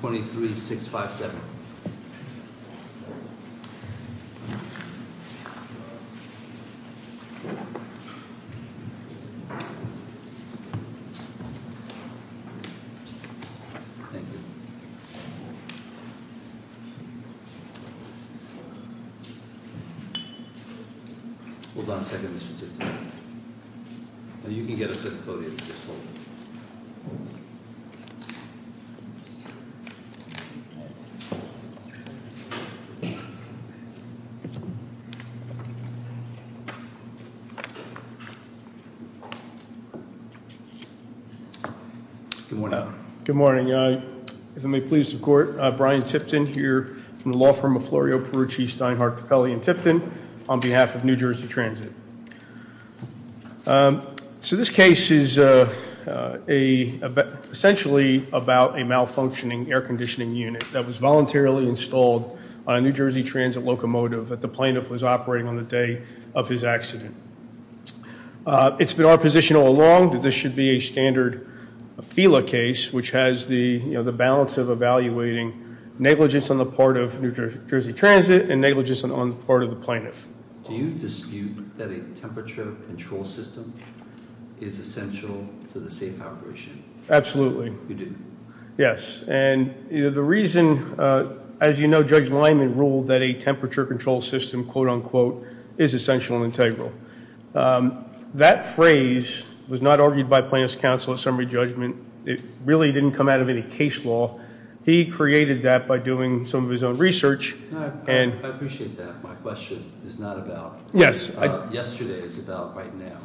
23657. Thank you. Hold on a second, Mr. Tito. You can get a fifth podium if you just hold on. Good morning. Good morning. If I may please the court, Brian Tipton here from the law firm of Florio Perucci, Steinhardt, So this case is essentially about a malfunctioning air conditioning unit that was voluntarily installed on a New Jersey Transit locomotive that the plaintiff was operating on the day of his accident. It's been our position all along that this should be a standard FILA case, which has the balance of evaluating negligence on the part of New Jersey Transit and negligence on the part of the plaintiff. Do you dispute that a temperature control system is essential to the safe operation? Absolutely. You do? Yes. And the reason, as you know, Judge Lineman ruled that a temperature control system, quote unquote, is essential and integral. That phrase was not argued by plaintiff's counsel at summary judgment. It really didn't come out of any case law. He created that by doing some of his own research. I appreciate that. My question is not about- Yes. Yesterday, it's about right now.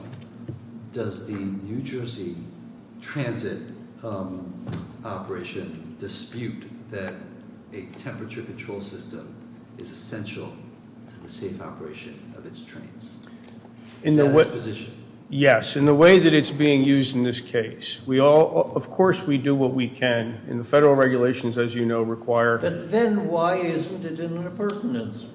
Does the New Jersey Transit operation dispute that a temperature control system is essential to the safe operation of its trains? Is that his position? Yes. In the way that it's being used in this case, we all, of course, we do what we can. And the federal regulations, as you know, require- But then why isn't it in the pertinence?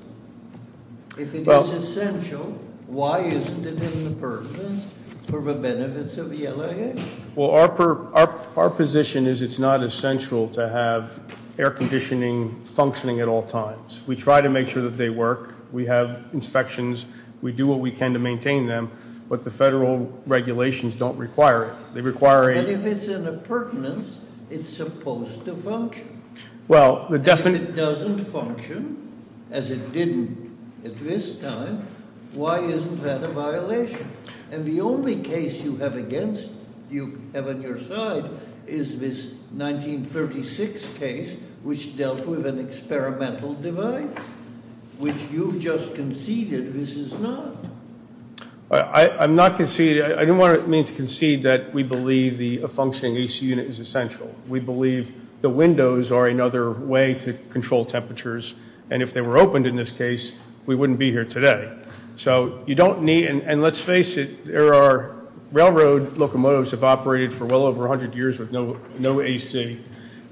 If it is essential, why isn't it in the pertinence for the benefits of the LIA? Well, our position is it's not essential to have air conditioning functioning at all times. We try to make sure that they work. We have inspections. We do what we can to maintain them. But the federal regulations don't require it. They require a- But if it's in a pertinence, it's supposed to function. Well, the- And if it doesn't function, as it didn't at this time, why isn't that a violation? And the only case you have against, you have on your side, is this 1936 case, which dealt with an experimental divide, which you've just conceded this is not. I'm not conceding. I don't want to mean to concede that we believe a functioning AC unit is essential. We believe the windows are another way to control temperatures. And if they were opened in this case, we wouldn't be here today. So you don't need- And let's face it, there are railroad locomotives have operated for well over 100 years with no AC.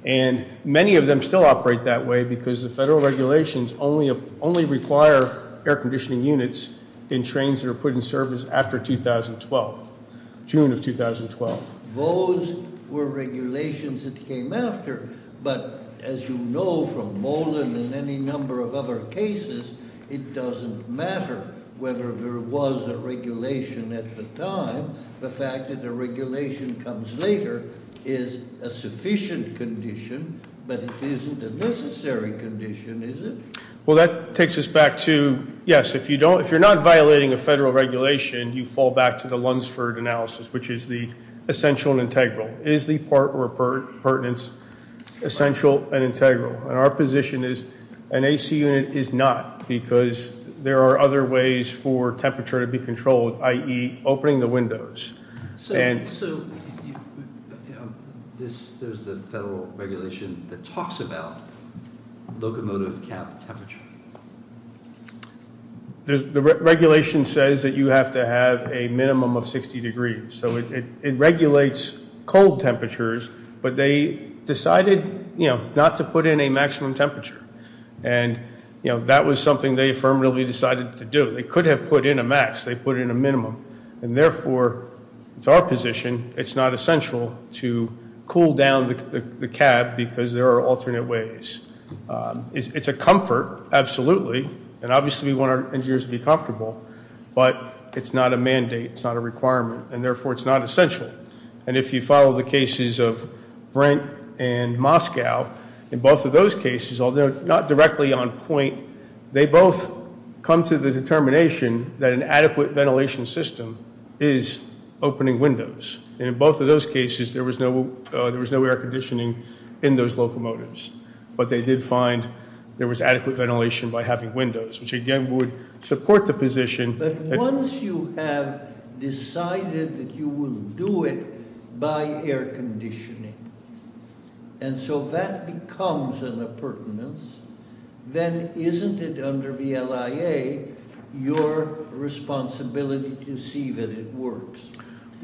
And many of them still operate that way because the federal regulations only require air conditioning units in trains that are put in service after 2012, June of 2012. Those were regulations that came after. But as you know from Molen and any number of other cases, it doesn't matter whether there was a regulation at the time. The fact that the regulation comes later is a sufficient condition, but it isn't a necessary condition, is it? Well, that takes us back to, yes, if you're not violating a federal regulation, you fall back to the Lunsford analysis, which is the essential and integral. Is the part where pertinence essential and integral? And our position is an AC unit is not because there are other ways for temperature to be controlled, i.e. opening the windows. So there's the federal regulation that talks about locomotive cap temperature. The regulation says that you have to have a minimum of 60 degrees. So it regulates cold temperatures, but they decided not to put in a maximum temperature. And that was something they affirmatively decided to do. They could have put in a max. They put in a minimum. And therefore, it's our position it's not essential to cool down the cab because there are alternate ways. It's a comfort, absolutely. And obviously we want our engineers to be comfortable. But it's not a mandate. It's not a requirement. And therefore, it's not essential. And if you follow the cases of Brent and Moscow, in both of those cases, although not directly on point, they both come to the determination that an adequate ventilation system is opening windows. And in both of those cases, there was no air conditioning in those locomotives. But they did find there was adequate ventilation by having windows, which again would support the position. But once you have decided that you will do it by air conditioning, and so that becomes an appurtenance, then isn't it under the LIA your responsibility to see that it works?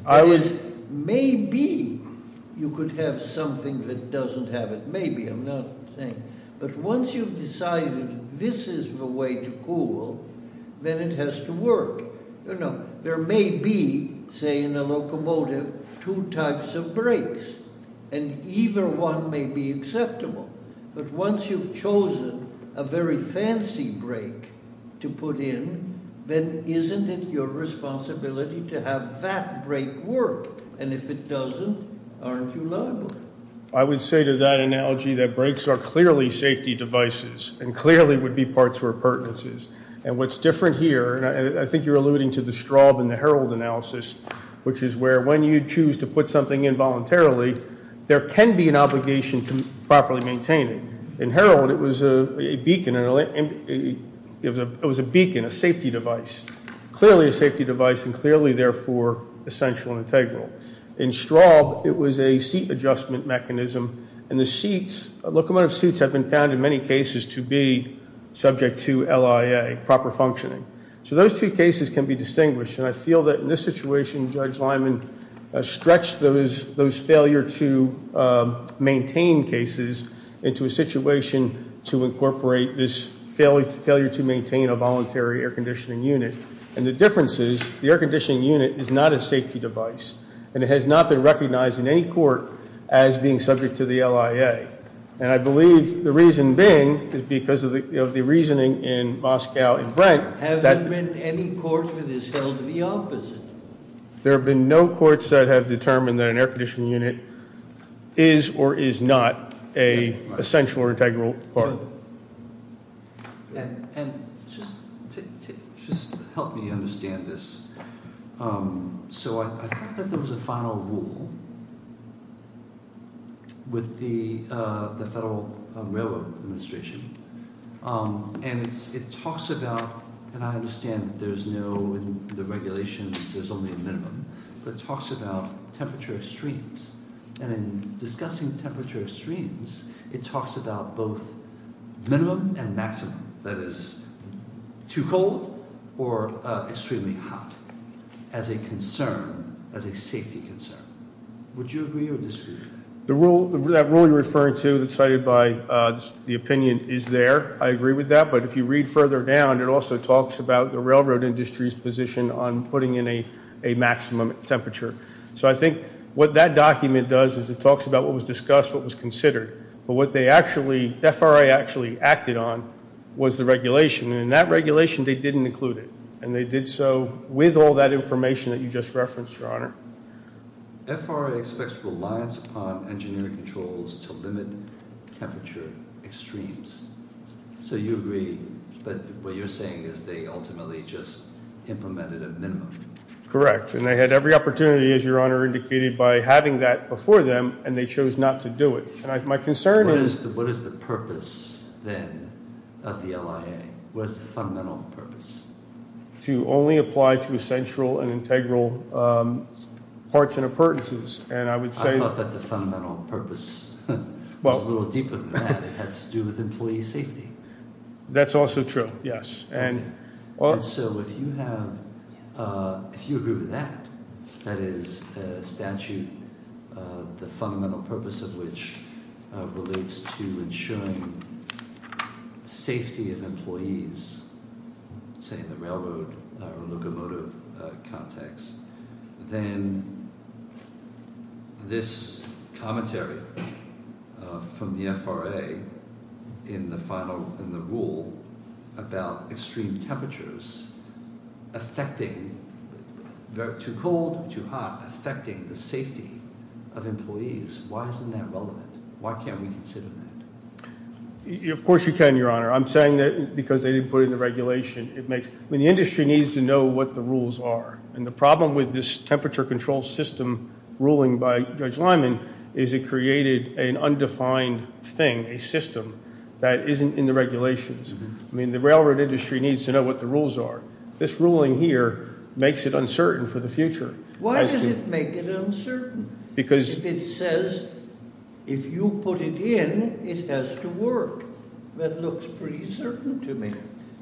That is, maybe you could have something that doesn't have it. Maybe, I'm not saying. But once you've decided this is the way to cool, then it has to work. There may be, say in a locomotive, two types of brakes. And either one may be acceptable. But once you've chosen a very fancy brake to put in, then isn't it your responsibility to have that brake work? And if it doesn't, aren't you liable? I would say to that analogy that brakes are clearly safety devices and clearly would be parts or appurtenances. And what's different here, and I think you're alluding to the Straub and the Herald analysis, which is where when you choose to put something in voluntarily, there can be an obligation to properly maintain it. In Herald, it was a beacon, a safety device. Clearly a safety device and clearly, therefore, essential and integral. In Straub, it was a seat adjustment mechanism. And the seats, locomotive seats have been found in many cases to be subject to LIA, proper functioning. So those two cases can be distinguished. And I feel that in this situation, Judge Lyman stretched those failure to maintain cases into a situation to incorporate this failure to maintain a voluntary air conditioning unit. And the difference is the air conditioning unit is not a safety device. And it has not been recognized in any court as being subject to the LIA. And I believe the reason being is because of the reasoning in Moscow and Brent. Have there been any court that has held the opposite? There have been no courts that have determined that an air conditioning unit is or is not an essential or integral part. And just help me understand this. So I think that there was a final rule with the Federal Railroad Administration. And it talks about – and I understand that there's no – in the regulations, there's only a minimum. But it talks about temperature extremes. And in discussing temperature extremes, it talks about both minimum and maximum. That is too cold or extremely hot as a concern, as a safety concern. Would you agree or disagree with that? The rule – that rule you're referring to that's cited by the opinion is there. I agree with that. But if you read further down, it also talks about the railroad industry's position on putting in a maximum temperature. So I think what that document does is it talks about what was discussed, what was considered. But what they actually – FRA actually acted on was the regulation. And in that regulation, they didn't include it. And they did so with all that information that you just referenced, Your Honor. FRA expects reliance upon engineering controls to limit temperature extremes. So you agree. But what you're saying is they ultimately just implemented a minimum. Correct. And they had every opportunity, as Your Honor indicated, by having that before them. And they chose not to do it. My concern is – What is the purpose then of the LIA? What is the fundamental purpose? To only apply to essential and integral parts and appurtenances. And I would say – I thought that the fundamental purpose was a little deeper than that. It has to do with employee safety. That's also true, yes. So if you have – if you agree with that, that is a statute, the fundamental purpose of which relates to ensuring safety of employees, say in the railroad or locomotive context, then this commentary from the FRA in the rule about extreme temperatures affecting – too cold, too hot – affecting the safety of employees, why isn't that relevant? Why can't we consider that? Of course you can, Your Honor. I'm saying that because they didn't put it in the regulation. I mean, the industry needs to know what the rules are. And the problem with this temperature control system ruling by Judge Lyman is it created an undefined thing, a system, that isn't in the regulations. I mean, the railroad industry needs to know what the rules are. This ruling here makes it uncertain for the future. Why does it make it uncertain? Because – If it says – if you put it in, it has to work. That looks pretty certain to me.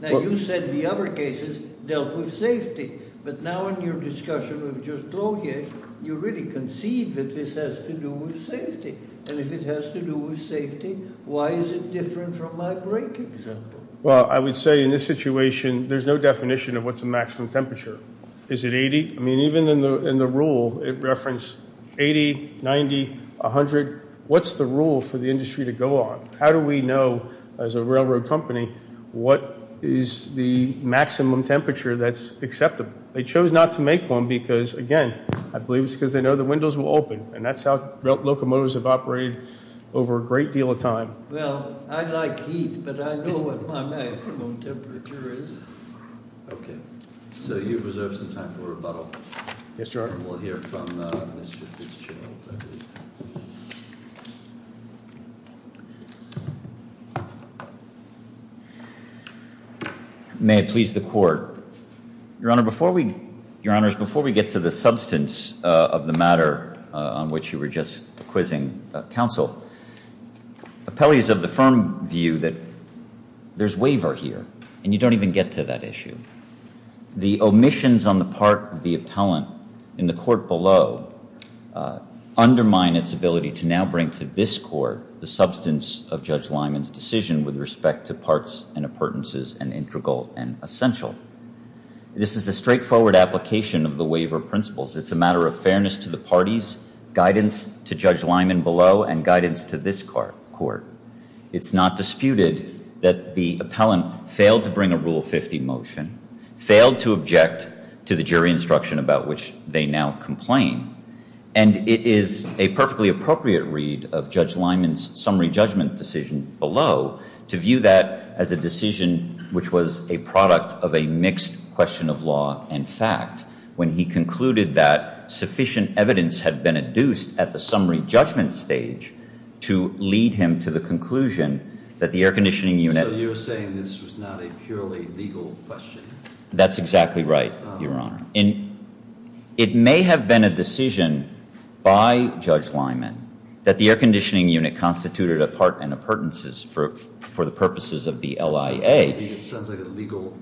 Now, you said the other cases dealt with safety. But now in your discussion with Judge Clogier, you really concede that this has to do with safety. And if it has to do with safety, why is it different from my break example? Well, I would say in this situation, there's no definition of what's a maximum temperature. Is it 80? I mean, even in the rule, it referenced 80, 90, 100. What's the rule for the industry to go on? How do we know, as a railroad company, what is the maximum temperature that's acceptable? They chose not to make one because, again, I believe it's because they know the windows will open. And that's how locomotives have operated over a great deal of time. Well, I like heat, but I know what my maximum temperature is. Okay. So you've reserved some time for rebuttal. Yes, Your Honor. We'll hear from Mr. Fitzgerald. May it please the Court. Your Honor, before we get to the substance of the matter on which you were just quizzing counsel, appellees have the firm view that there's waiver here, and you don't even get to that issue. The omissions on the part of the appellant in the court below undermine its ability to now bring to this court the substance of Judge Lyman's decision with respect to parts and appurtenances and integral and essential. This is a straightforward application of the waiver principles. It's a matter of fairness to the parties, guidance to Judge Lyman below, and guidance to this court. It's not disputed that the appellant failed to bring a Rule 50 motion, failed to object to the jury instruction about which they now complain, and it is a perfectly appropriate read of Judge Lyman's summary judgment decision below to view that as a decision which was a product of a mixed question of law and fact when he concluded that sufficient evidence had been adduced at the summary judgment stage to lead him to the conclusion that the air conditioning unit... So you're saying this was not a purely legal question? That's exactly right, Your Honor. It may have been a decision by Judge Lyman that the air conditioning unit constituted a part and appurtenances for the purposes of the LIA. So maybe it sounds like a legal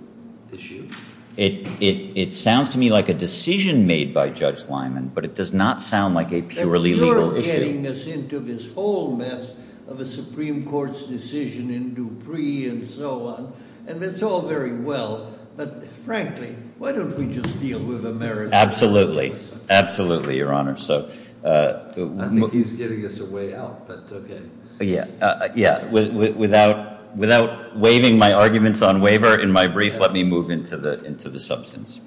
issue? It sounds to me like a decision made by Judge Lyman, but it does not sound like a purely legal issue. Then you're getting us into this whole mess of a Supreme Court's decision in Dupree and so on, and it's all very well, but frankly, why don't we just deal with America? Absolutely. Absolutely, Your Honor. I think he's giving us a way out, but okay. Without waiving my arguments on waiver in my brief, let me move into the substance.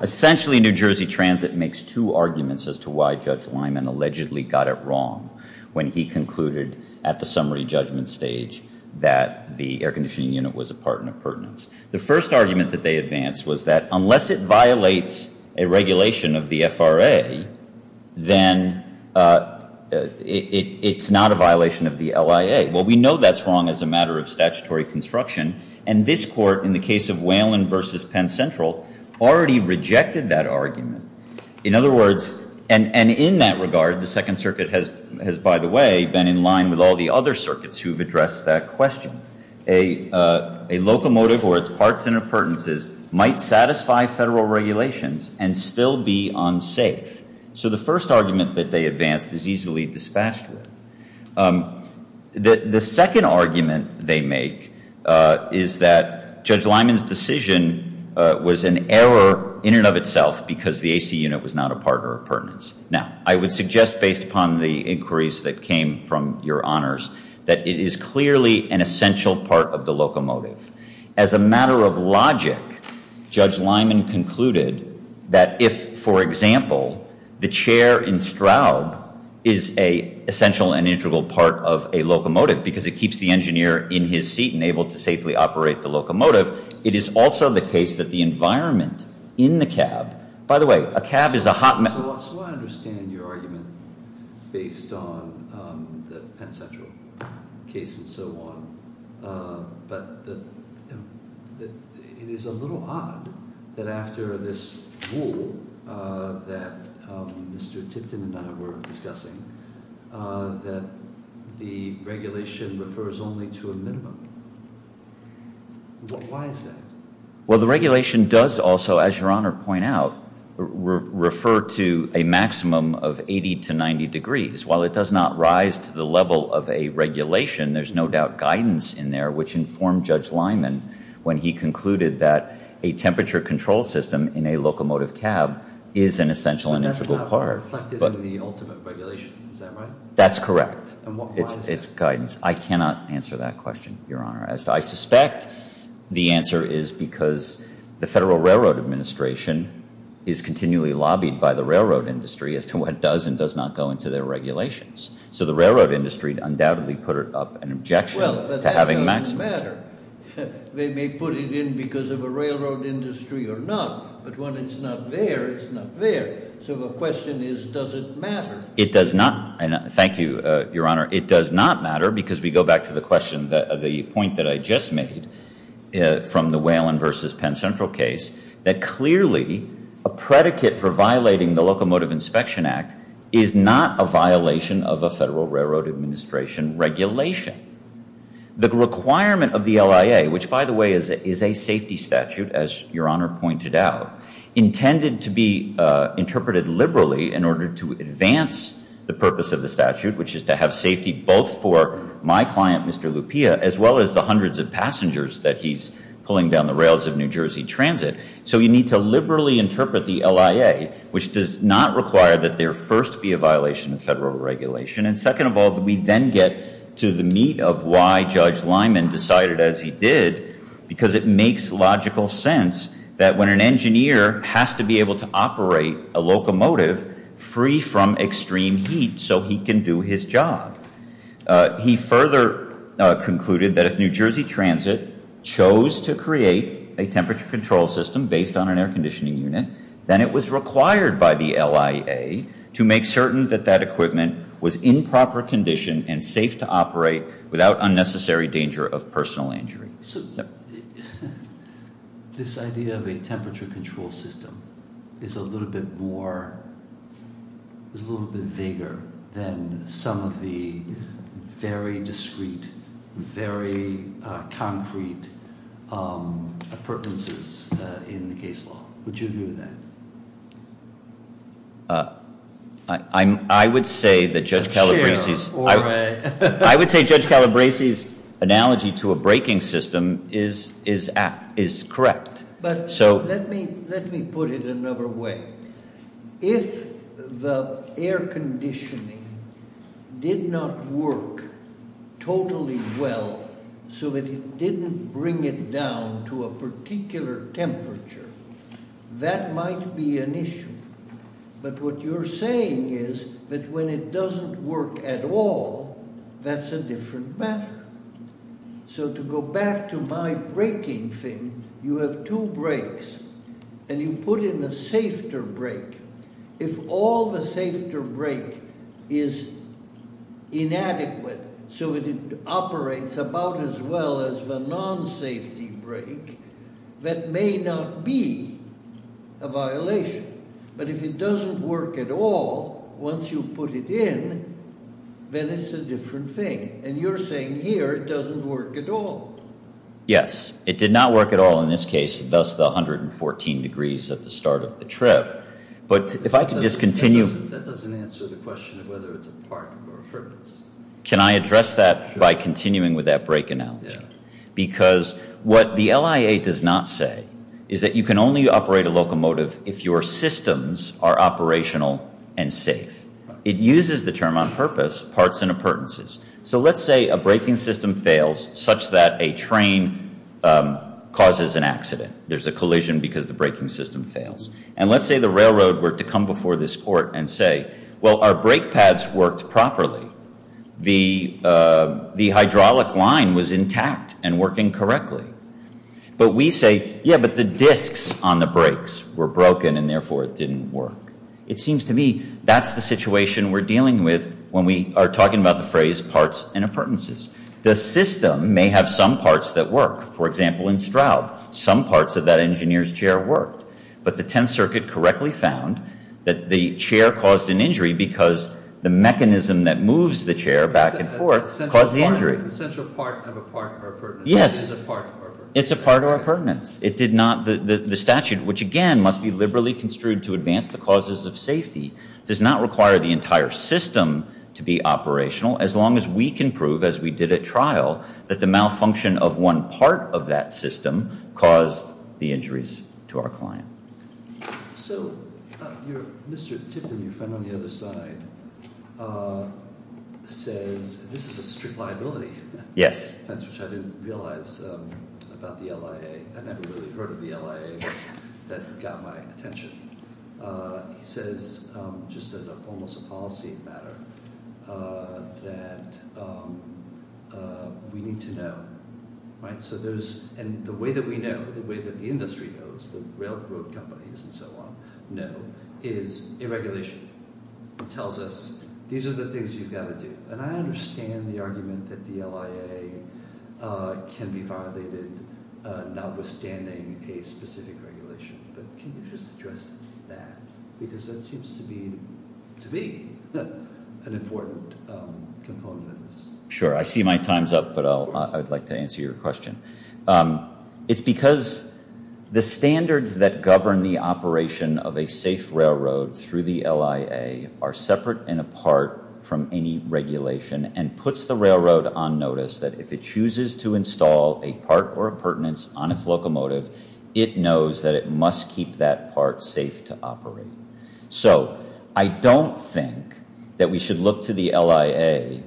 Essentially, New Jersey Transit makes two arguments as to why Judge Lyman allegedly got it wrong when he concluded at the summary judgment stage that the air conditioning unit was a part and appurtenance. The first argument that they advanced was that unless it violates a regulation of the FRA, then it's not a violation of the LIA. Well, we know that's wrong as a matter of statutory construction, and this Court in the case of Whalen v. Penn Central already rejected that argument. In other words, and in that regard, the Second Circuit has, by the way, been in line with all the other circuits who have addressed that question. A locomotive or its parts and appurtenances might satisfy federal regulations and still be unsafe. So the first argument that they advanced is easily dispatched with. The second argument they make is that Judge Lyman's decision was an error in and of itself because the AC unit was not a part or appurtenance. Now, I would suggest based upon the inquiries that came from Your Honors that it is clearly an essential part of the locomotive. As a matter of logic, Judge Lyman concluded that if, for example, the chair in Straub is an essential and integral part of a locomotive because it keeps the engineer in his seat and able to safely operate the locomotive, it is also the case that the environment in the cab. By the way, a cab is a hot mess. So I understand your argument based on the Penn Central case and so on, but it is a little odd that after this rule that Mr. Tipton and I were discussing that the regulation refers only to a minimum. Why is that? Well, the regulation does also, as Your Honor pointed out, refer to a maximum of 80 to 90 degrees. While it does not rise to the level of a regulation, there's no doubt guidance in there which informed Judge Lyman when he concluded that a temperature control system in a locomotive cab is an essential and integral part. But that's not reflected in the ultimate regulation. Is that right? That's correct. And why is that? It's guidance. I cannot answer that question, Your Honor. I suspect the answer is because the Federal Railroad Administration is continually lobbied by the railroad industry as to what does and does not go into their regulations. So the railroad industry undoubtedly put up an objection to having maximums. Well, but that doesn't matter. They may put it in because of a railroad industry or not, but when it's not there, it's not there. So the question is, does it matter? It does not. Thank you, Your Honor. It does not matter because we go back to the question, the point that I just made from the Whalen v. Penn Central case, that clearly a predicate for violating the Locomotive Inspection Act is not a violation of a Federal Railroad Administration regulation. The requirement of the LIA, which, by the way, is a safety statute, as Your Honor pointed out, intended to be interpreted liberally in order to advance the purpose of the statute, which is to have safety both for my client, Mr. Lupia, as well as the hundreds of passengers that he's pulling down the rails of New Jersey Transit. So you need to liberally interpret the LIA, which does not require that there first be a violation of Federal regulation, and second of all, that we then get to the meat of why Judge Lyman decided as he did, because it makes logical sense that when an engineer has to be able to operate a locomotive free from extreme heat so he can do his job. He further concluded that if New Jersey Transit chose to create a temperature control system based on an air conditioning unit, then it was required by the LIA to make certain that that equipment was in proper condition and safe to operate without unnecessary danger of personal injury. So this idea of a temperature control system is a little bit more, is a little bit bigger than some of the very discreet, very concrete appurtenances in the case law. Would you agree with that? I would say that Judge Calabrese's analogy to a braking system is correct. But let me put it another way. If the air conditioning did not work totally well so that it didn't bring it down to a particular temperature, that might be an issue. But what you're saying is that when it doesn't work at all, that's a different matter. So to go back to my braking thing, you have two brakes and you put in a safer brake. If all the safer brake is inadequate, so it operates about as well as the non-safety brake, that may not be a violation. But if it doesn't work at all, once you put it in, then it's a different thing. And you're saying here it doesn't work at all. Yes, it did not work at all in this case, thus the 114 degrees at the start of the trip. But if I could just continue. That doesn't answer the question of whether it's a part or a purpose. Can I address that by continuing with that brake analogy? Because what the LIA does not say is that you can only operate a locomotive if your systems are operational and safe. It uses the term on purpose, parts and appurtenances. So let's say a braking system fails such that a train causes an accident. There's a collision because the braking system fails. And let's say the railroad were to come before this court and say, well, our brake pads worked properly. The hydraulic line was intact and working correctly. But we say, yeah, but the discs on the brakes were broken and therefore it didn't work. It seems to me that's the situation we're dealing with when we are talking about the phrase parts and appurtenances. The system may have some parts that work. For example, in Stroud, some parts of that engineer's chair worked. But the Tenth Circuit correctly found that the chair caused an injury because the mechanism that moves the chair back and forth caused the injury. The central part of a part or appurtenance is a part or appurtenance. Yes, it's a part or appurtenance. The statute, which again must be liberally construed to advance the causes of safety, does not require the entire system to be operational as long as we can prove, as we did at trial, that the malfunction of one part of that system caused the injuries to our client. So, Mr. Tipton, your friend on the other side, says this is a strict liability. Yes. That's what I didn't realize about the LIA. I never really heard of the LIA that got my attention. He says, just as almost a policy matter, that we need to know. And the way that we know, the way that the industry knows, the railroad companies and so on know, is a regulation. It tells us, these are the things you've got to do. And I understand the argument that the LIA can be violated notwithstanding a specific regulation, but can you just address that? Because that seems to be an important component of this. Sure, I see my time's up, but I'd like to answer your question. It's because the standards that govern the operation of a safe railroad through the LIA are separate and apart from any regulation and puts the railroad on notice that if it chooses to install a part or a pertinence on its locomotive, it knows that it must keep that part safe to operate. So, I don't think that we should look to the LIA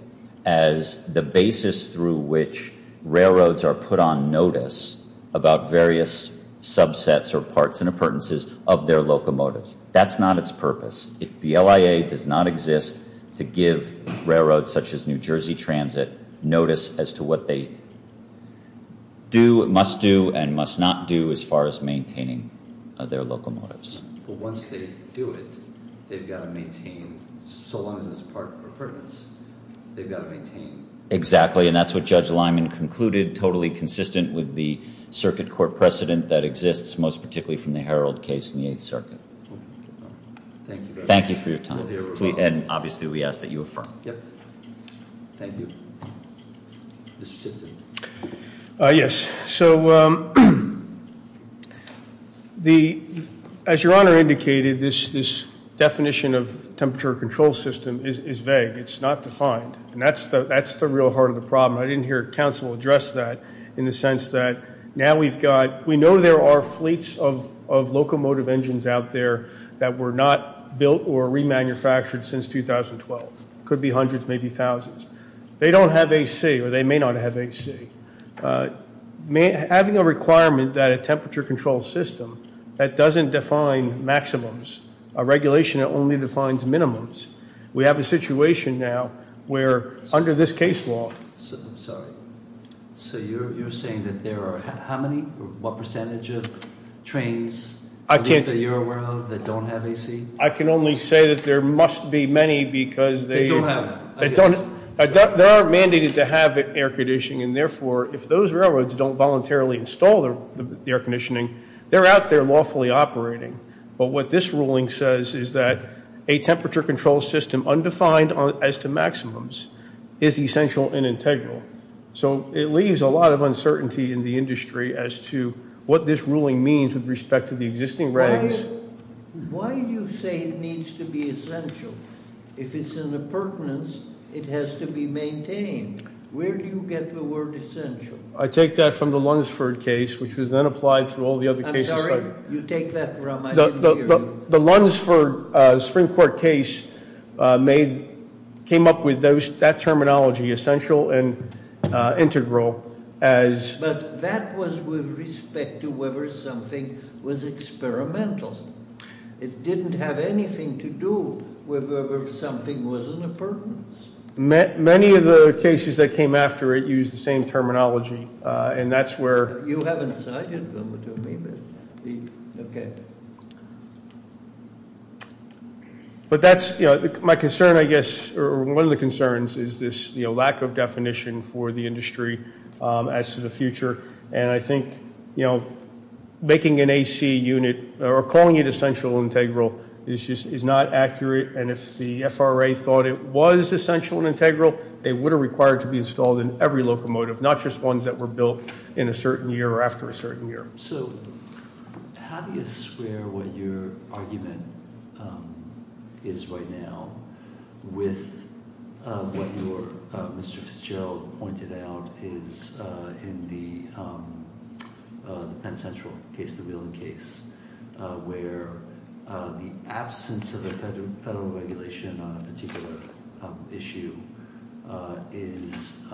as the basis through which railroads are put on notice about various subsets or parts and appurtenances of their locomotives. That's not its purpose. The LIA does not exist to give railroads such as New Jersey Transit notice as to what they do, must do, and must not do as far as maintaining their locomotives. But once they do it, they've got to maintain, so long as it's a part or a pertinence, they've got to maintain. Exactly, and that's what Judge Lyman concluded, totally consistent with the circuit court precedent that exists, most particularly from the Herald case in the Eighth Circuit. Thank you. Thank you for your time. And, obviously, we ask that you affirm. Thank you. Mr. Stifton. Yes, so as Your Honor indicated, this definition of temperature control system is vague. It's not defined, and that's the real heart of the problem. I didn't hear counsel address that in the sense that now we've got, we know there are fleets of locomotive engines out there that were not built or remanufactured since 2012. It could be hundreds, maybe thousands. They don't have AC, or they may not have AC. Having a requirement that a temperature control system, that doesn't define maximums. A regulation that only defines minimums. We have a situation now where, under this case law. I'm sorry. So you're saying that there are how many, what percentage of trains, at least that you're aware of, that don't have AC? I can only say that there must be many because they don't have. They are mandated to have air conditioning, and therefore if those railroads don't voluntarily install the air conditioning, they're out there lawfully operating. But what this ruling says is that a temperature control system undefined as to maximums is essential and integral. So it leaves a lot of uncertainty in the industry as to what this ruling means with respect to the existing regs. Why do you say it needs to be essential? If it's in the pertinence, it has to be maintained. Where do you get the word essential? I take that from the Lunsford case, which was then applied to all the other cases. I'm sorry? You take that from, I didn't hear you. The Lunsford Supreme Court case came up with that terminology, essential and integral, as. But that was with respect to whether something was experimental. It didn't have anything to do with whether something was in the pertinence. Many of the cases that came after it used the same terminology, and that's where. You haven't cited them to me, but okay. But that's my concern, I guess, or one of the concerns is this lack of definition for the industry as to the future. And I think making an AC unit or calling it essential and integral is not accurate. And if the FRA thought it was essential and integral, they would have required to be installed in every locomotive, not just ones that were built in a certain year or after a certain year. So how do you square what your argument is right now with what Mr. Fitzgerald pointed out is in the Penn Central case, the Wheeling case, where the absence of a federal regulation on a particular issue is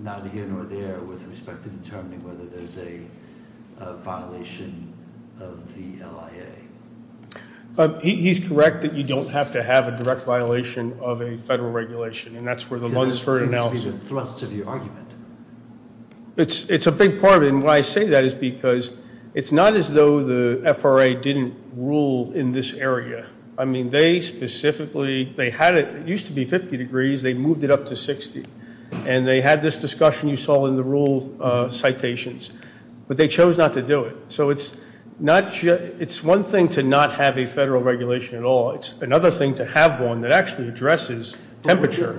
neither here nor there with respect to determining whether there's a violation of the LIA? He's correct that you don't have to have a direct violation of a federal regulation, and that's where the Lundisford analysis. It seems to be the thrust of your argument. It's a big part of it, and why I say that is because it's not as though the FRA didn't rule in this area. I mean, they specifically, they had it. It used to be 50 degrees. They moved it up to 60. And they had this discussion you saw in the rule citations. But they chose not to do it. So it's one thing to not have a federal regulation at all. It's another thing to have one that actually addresses temperature.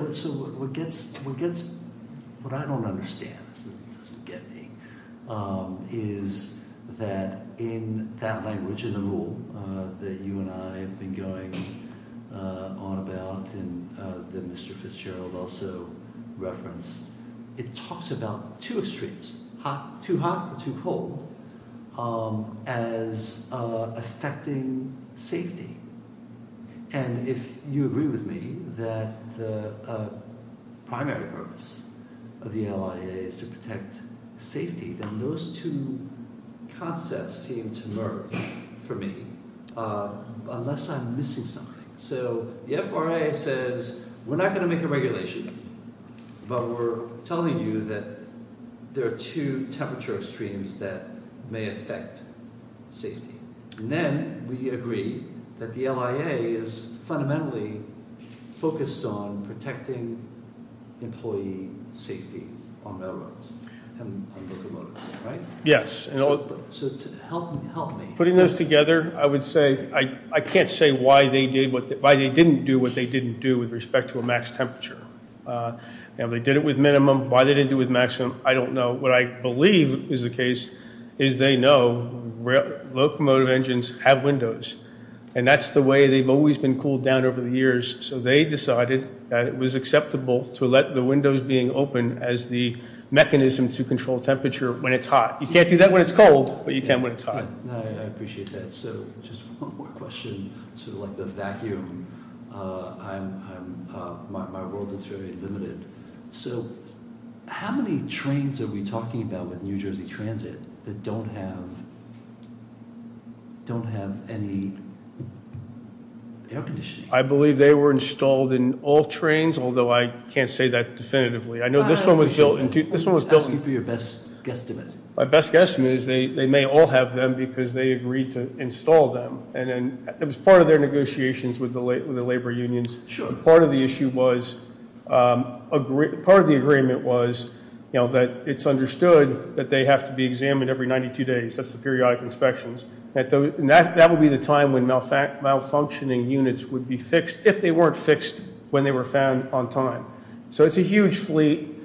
What I don't understand is that in that language in the rule that you and I have been going on about and that Mr. Fitzgerald also referenced, it talks about two extremes, too hot or too cold, as affecting safety. And if you agree with me that the primary purpose of the LIA is to protect safety, then those two concepts seem to merge for me unless I'm missing something. So the FRA says we're not going to make a regulation, but we're telling you that there are two temperature extremes that may affect safety. And then we agree that the LIA is fundamentally focused on protecting employee safety on railroads and locomotives, right? Yes. So help me. Putting those together, I would say I can't say why they didn't do what they didn't do with respect to a max temperature. They did it with minimum. Why they didn't do it with maximum, I don't know. But what I believe is the case is they know locomotive engines have windows. And that's the way they've always been cooled down over the years. So they decided that it was acceptable to let the windows being open as the mechanism to control temperature when it's hot. You can't do that when it's cold, but you can when it's hot. I appreciate that. So just one more question, sort of like the vacuum. My world is very limited. So how many trains are we talking about with New Jersey Transit that don't have any air conditioning? I believe they were installed in all trains, although I can't say that definitively. I know this one was built in. I was asking for your best guesstimate. My best guesstimate is they may all have them because they agreed to install them. And it was part of their negotiations with the labor unions. Part of the agreement was that it's understood that they have to be examined every 92 days. That's the periodic inspections. And that would be the time when malfunctioning units would be fixed, if they weren't fixed when they were found on time. So it's a huge fleet.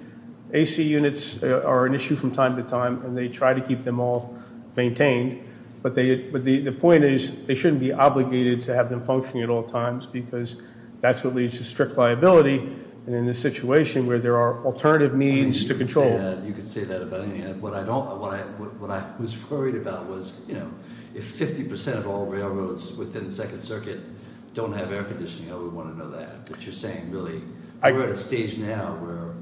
AC units are an issue from time to time, and they try to keep them all maintained. But the point is, they shouldn't be obligated to have them functioning at all times, because that's what leads to strict liability. And in this situation, where there are alternative means to control. You could say that about anything. What I was worried about was, if 50% of all railroads within the Second Circuit don't have air conditioning, I would want to know that. But you're saying, really, we're at a stage now where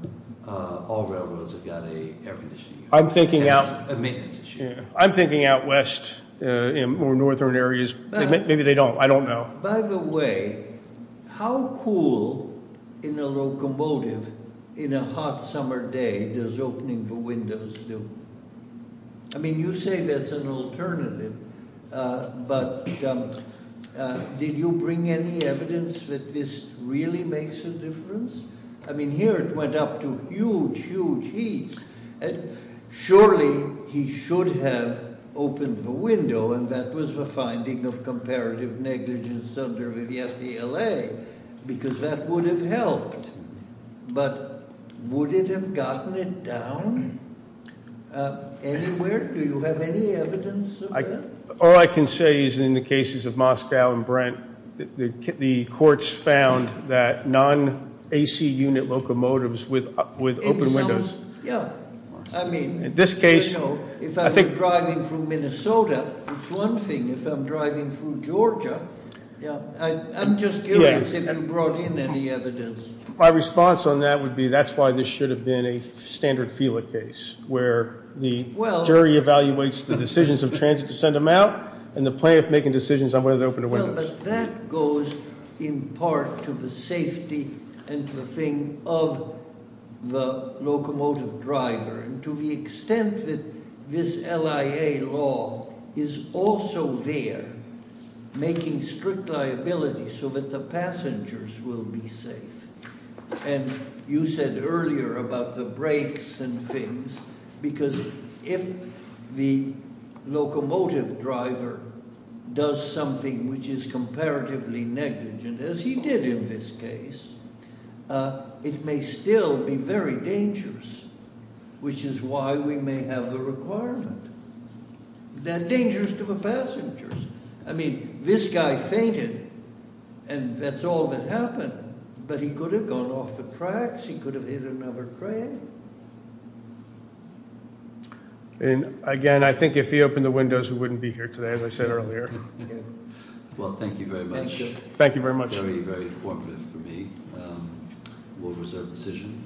all railroads have got an air conditioning unit. That's a maintenance issue. I'm thinking out west in more northern areas. Maybe they don't. I don't know. By the way, how cool in a locomotive in a hot summer day does opening the windows do? I mean, you say that's an alternative. But did you bring any evidence that this really makes a difference? I mean, here it went up to huge, huge heat. Surely, he should have opened the window. And that was the finding of comparative negligence under the FDLA, because that would have helped. But would it have gotten it down anywhere? Do you have any evidence of that? All I can say is, in the cases of Moscow and Brent, the courts found that non-AC unit locomotives with open windows- Yeah. I mean- In this case- If I'm driving through Minnesota, it's one thing. If I'm driving through Georgia, I'm just curious if you brought in any evidence. My response on that would be that's why this should have been a standard FDLA case, where the jury evaluates the decisions of transit to send them out and the plaintiff making decisions on whether to open the windows. Well, but that goes in part to the safety and to the thing of the locomotive driver. And to the extent that this LIA law is also there, making strict liability so that the passengers will be safe. And you said earlier about the brakes and things, because if the locomotive driver does something which is comparatively negligent, as he did in this case, it may still be very dangerous, which is why we may have the requirement. They're dangerous to the passengers. I mean, this guy fainted, and that's all that happened. But he could have gone off the tracks. He could have hit another train. And again, I think if he opened the windows, we wouldn't be here today, as I said earlier. Well, thank you very much. Thank you very much. Very, very informative for me. A well-reserved decision.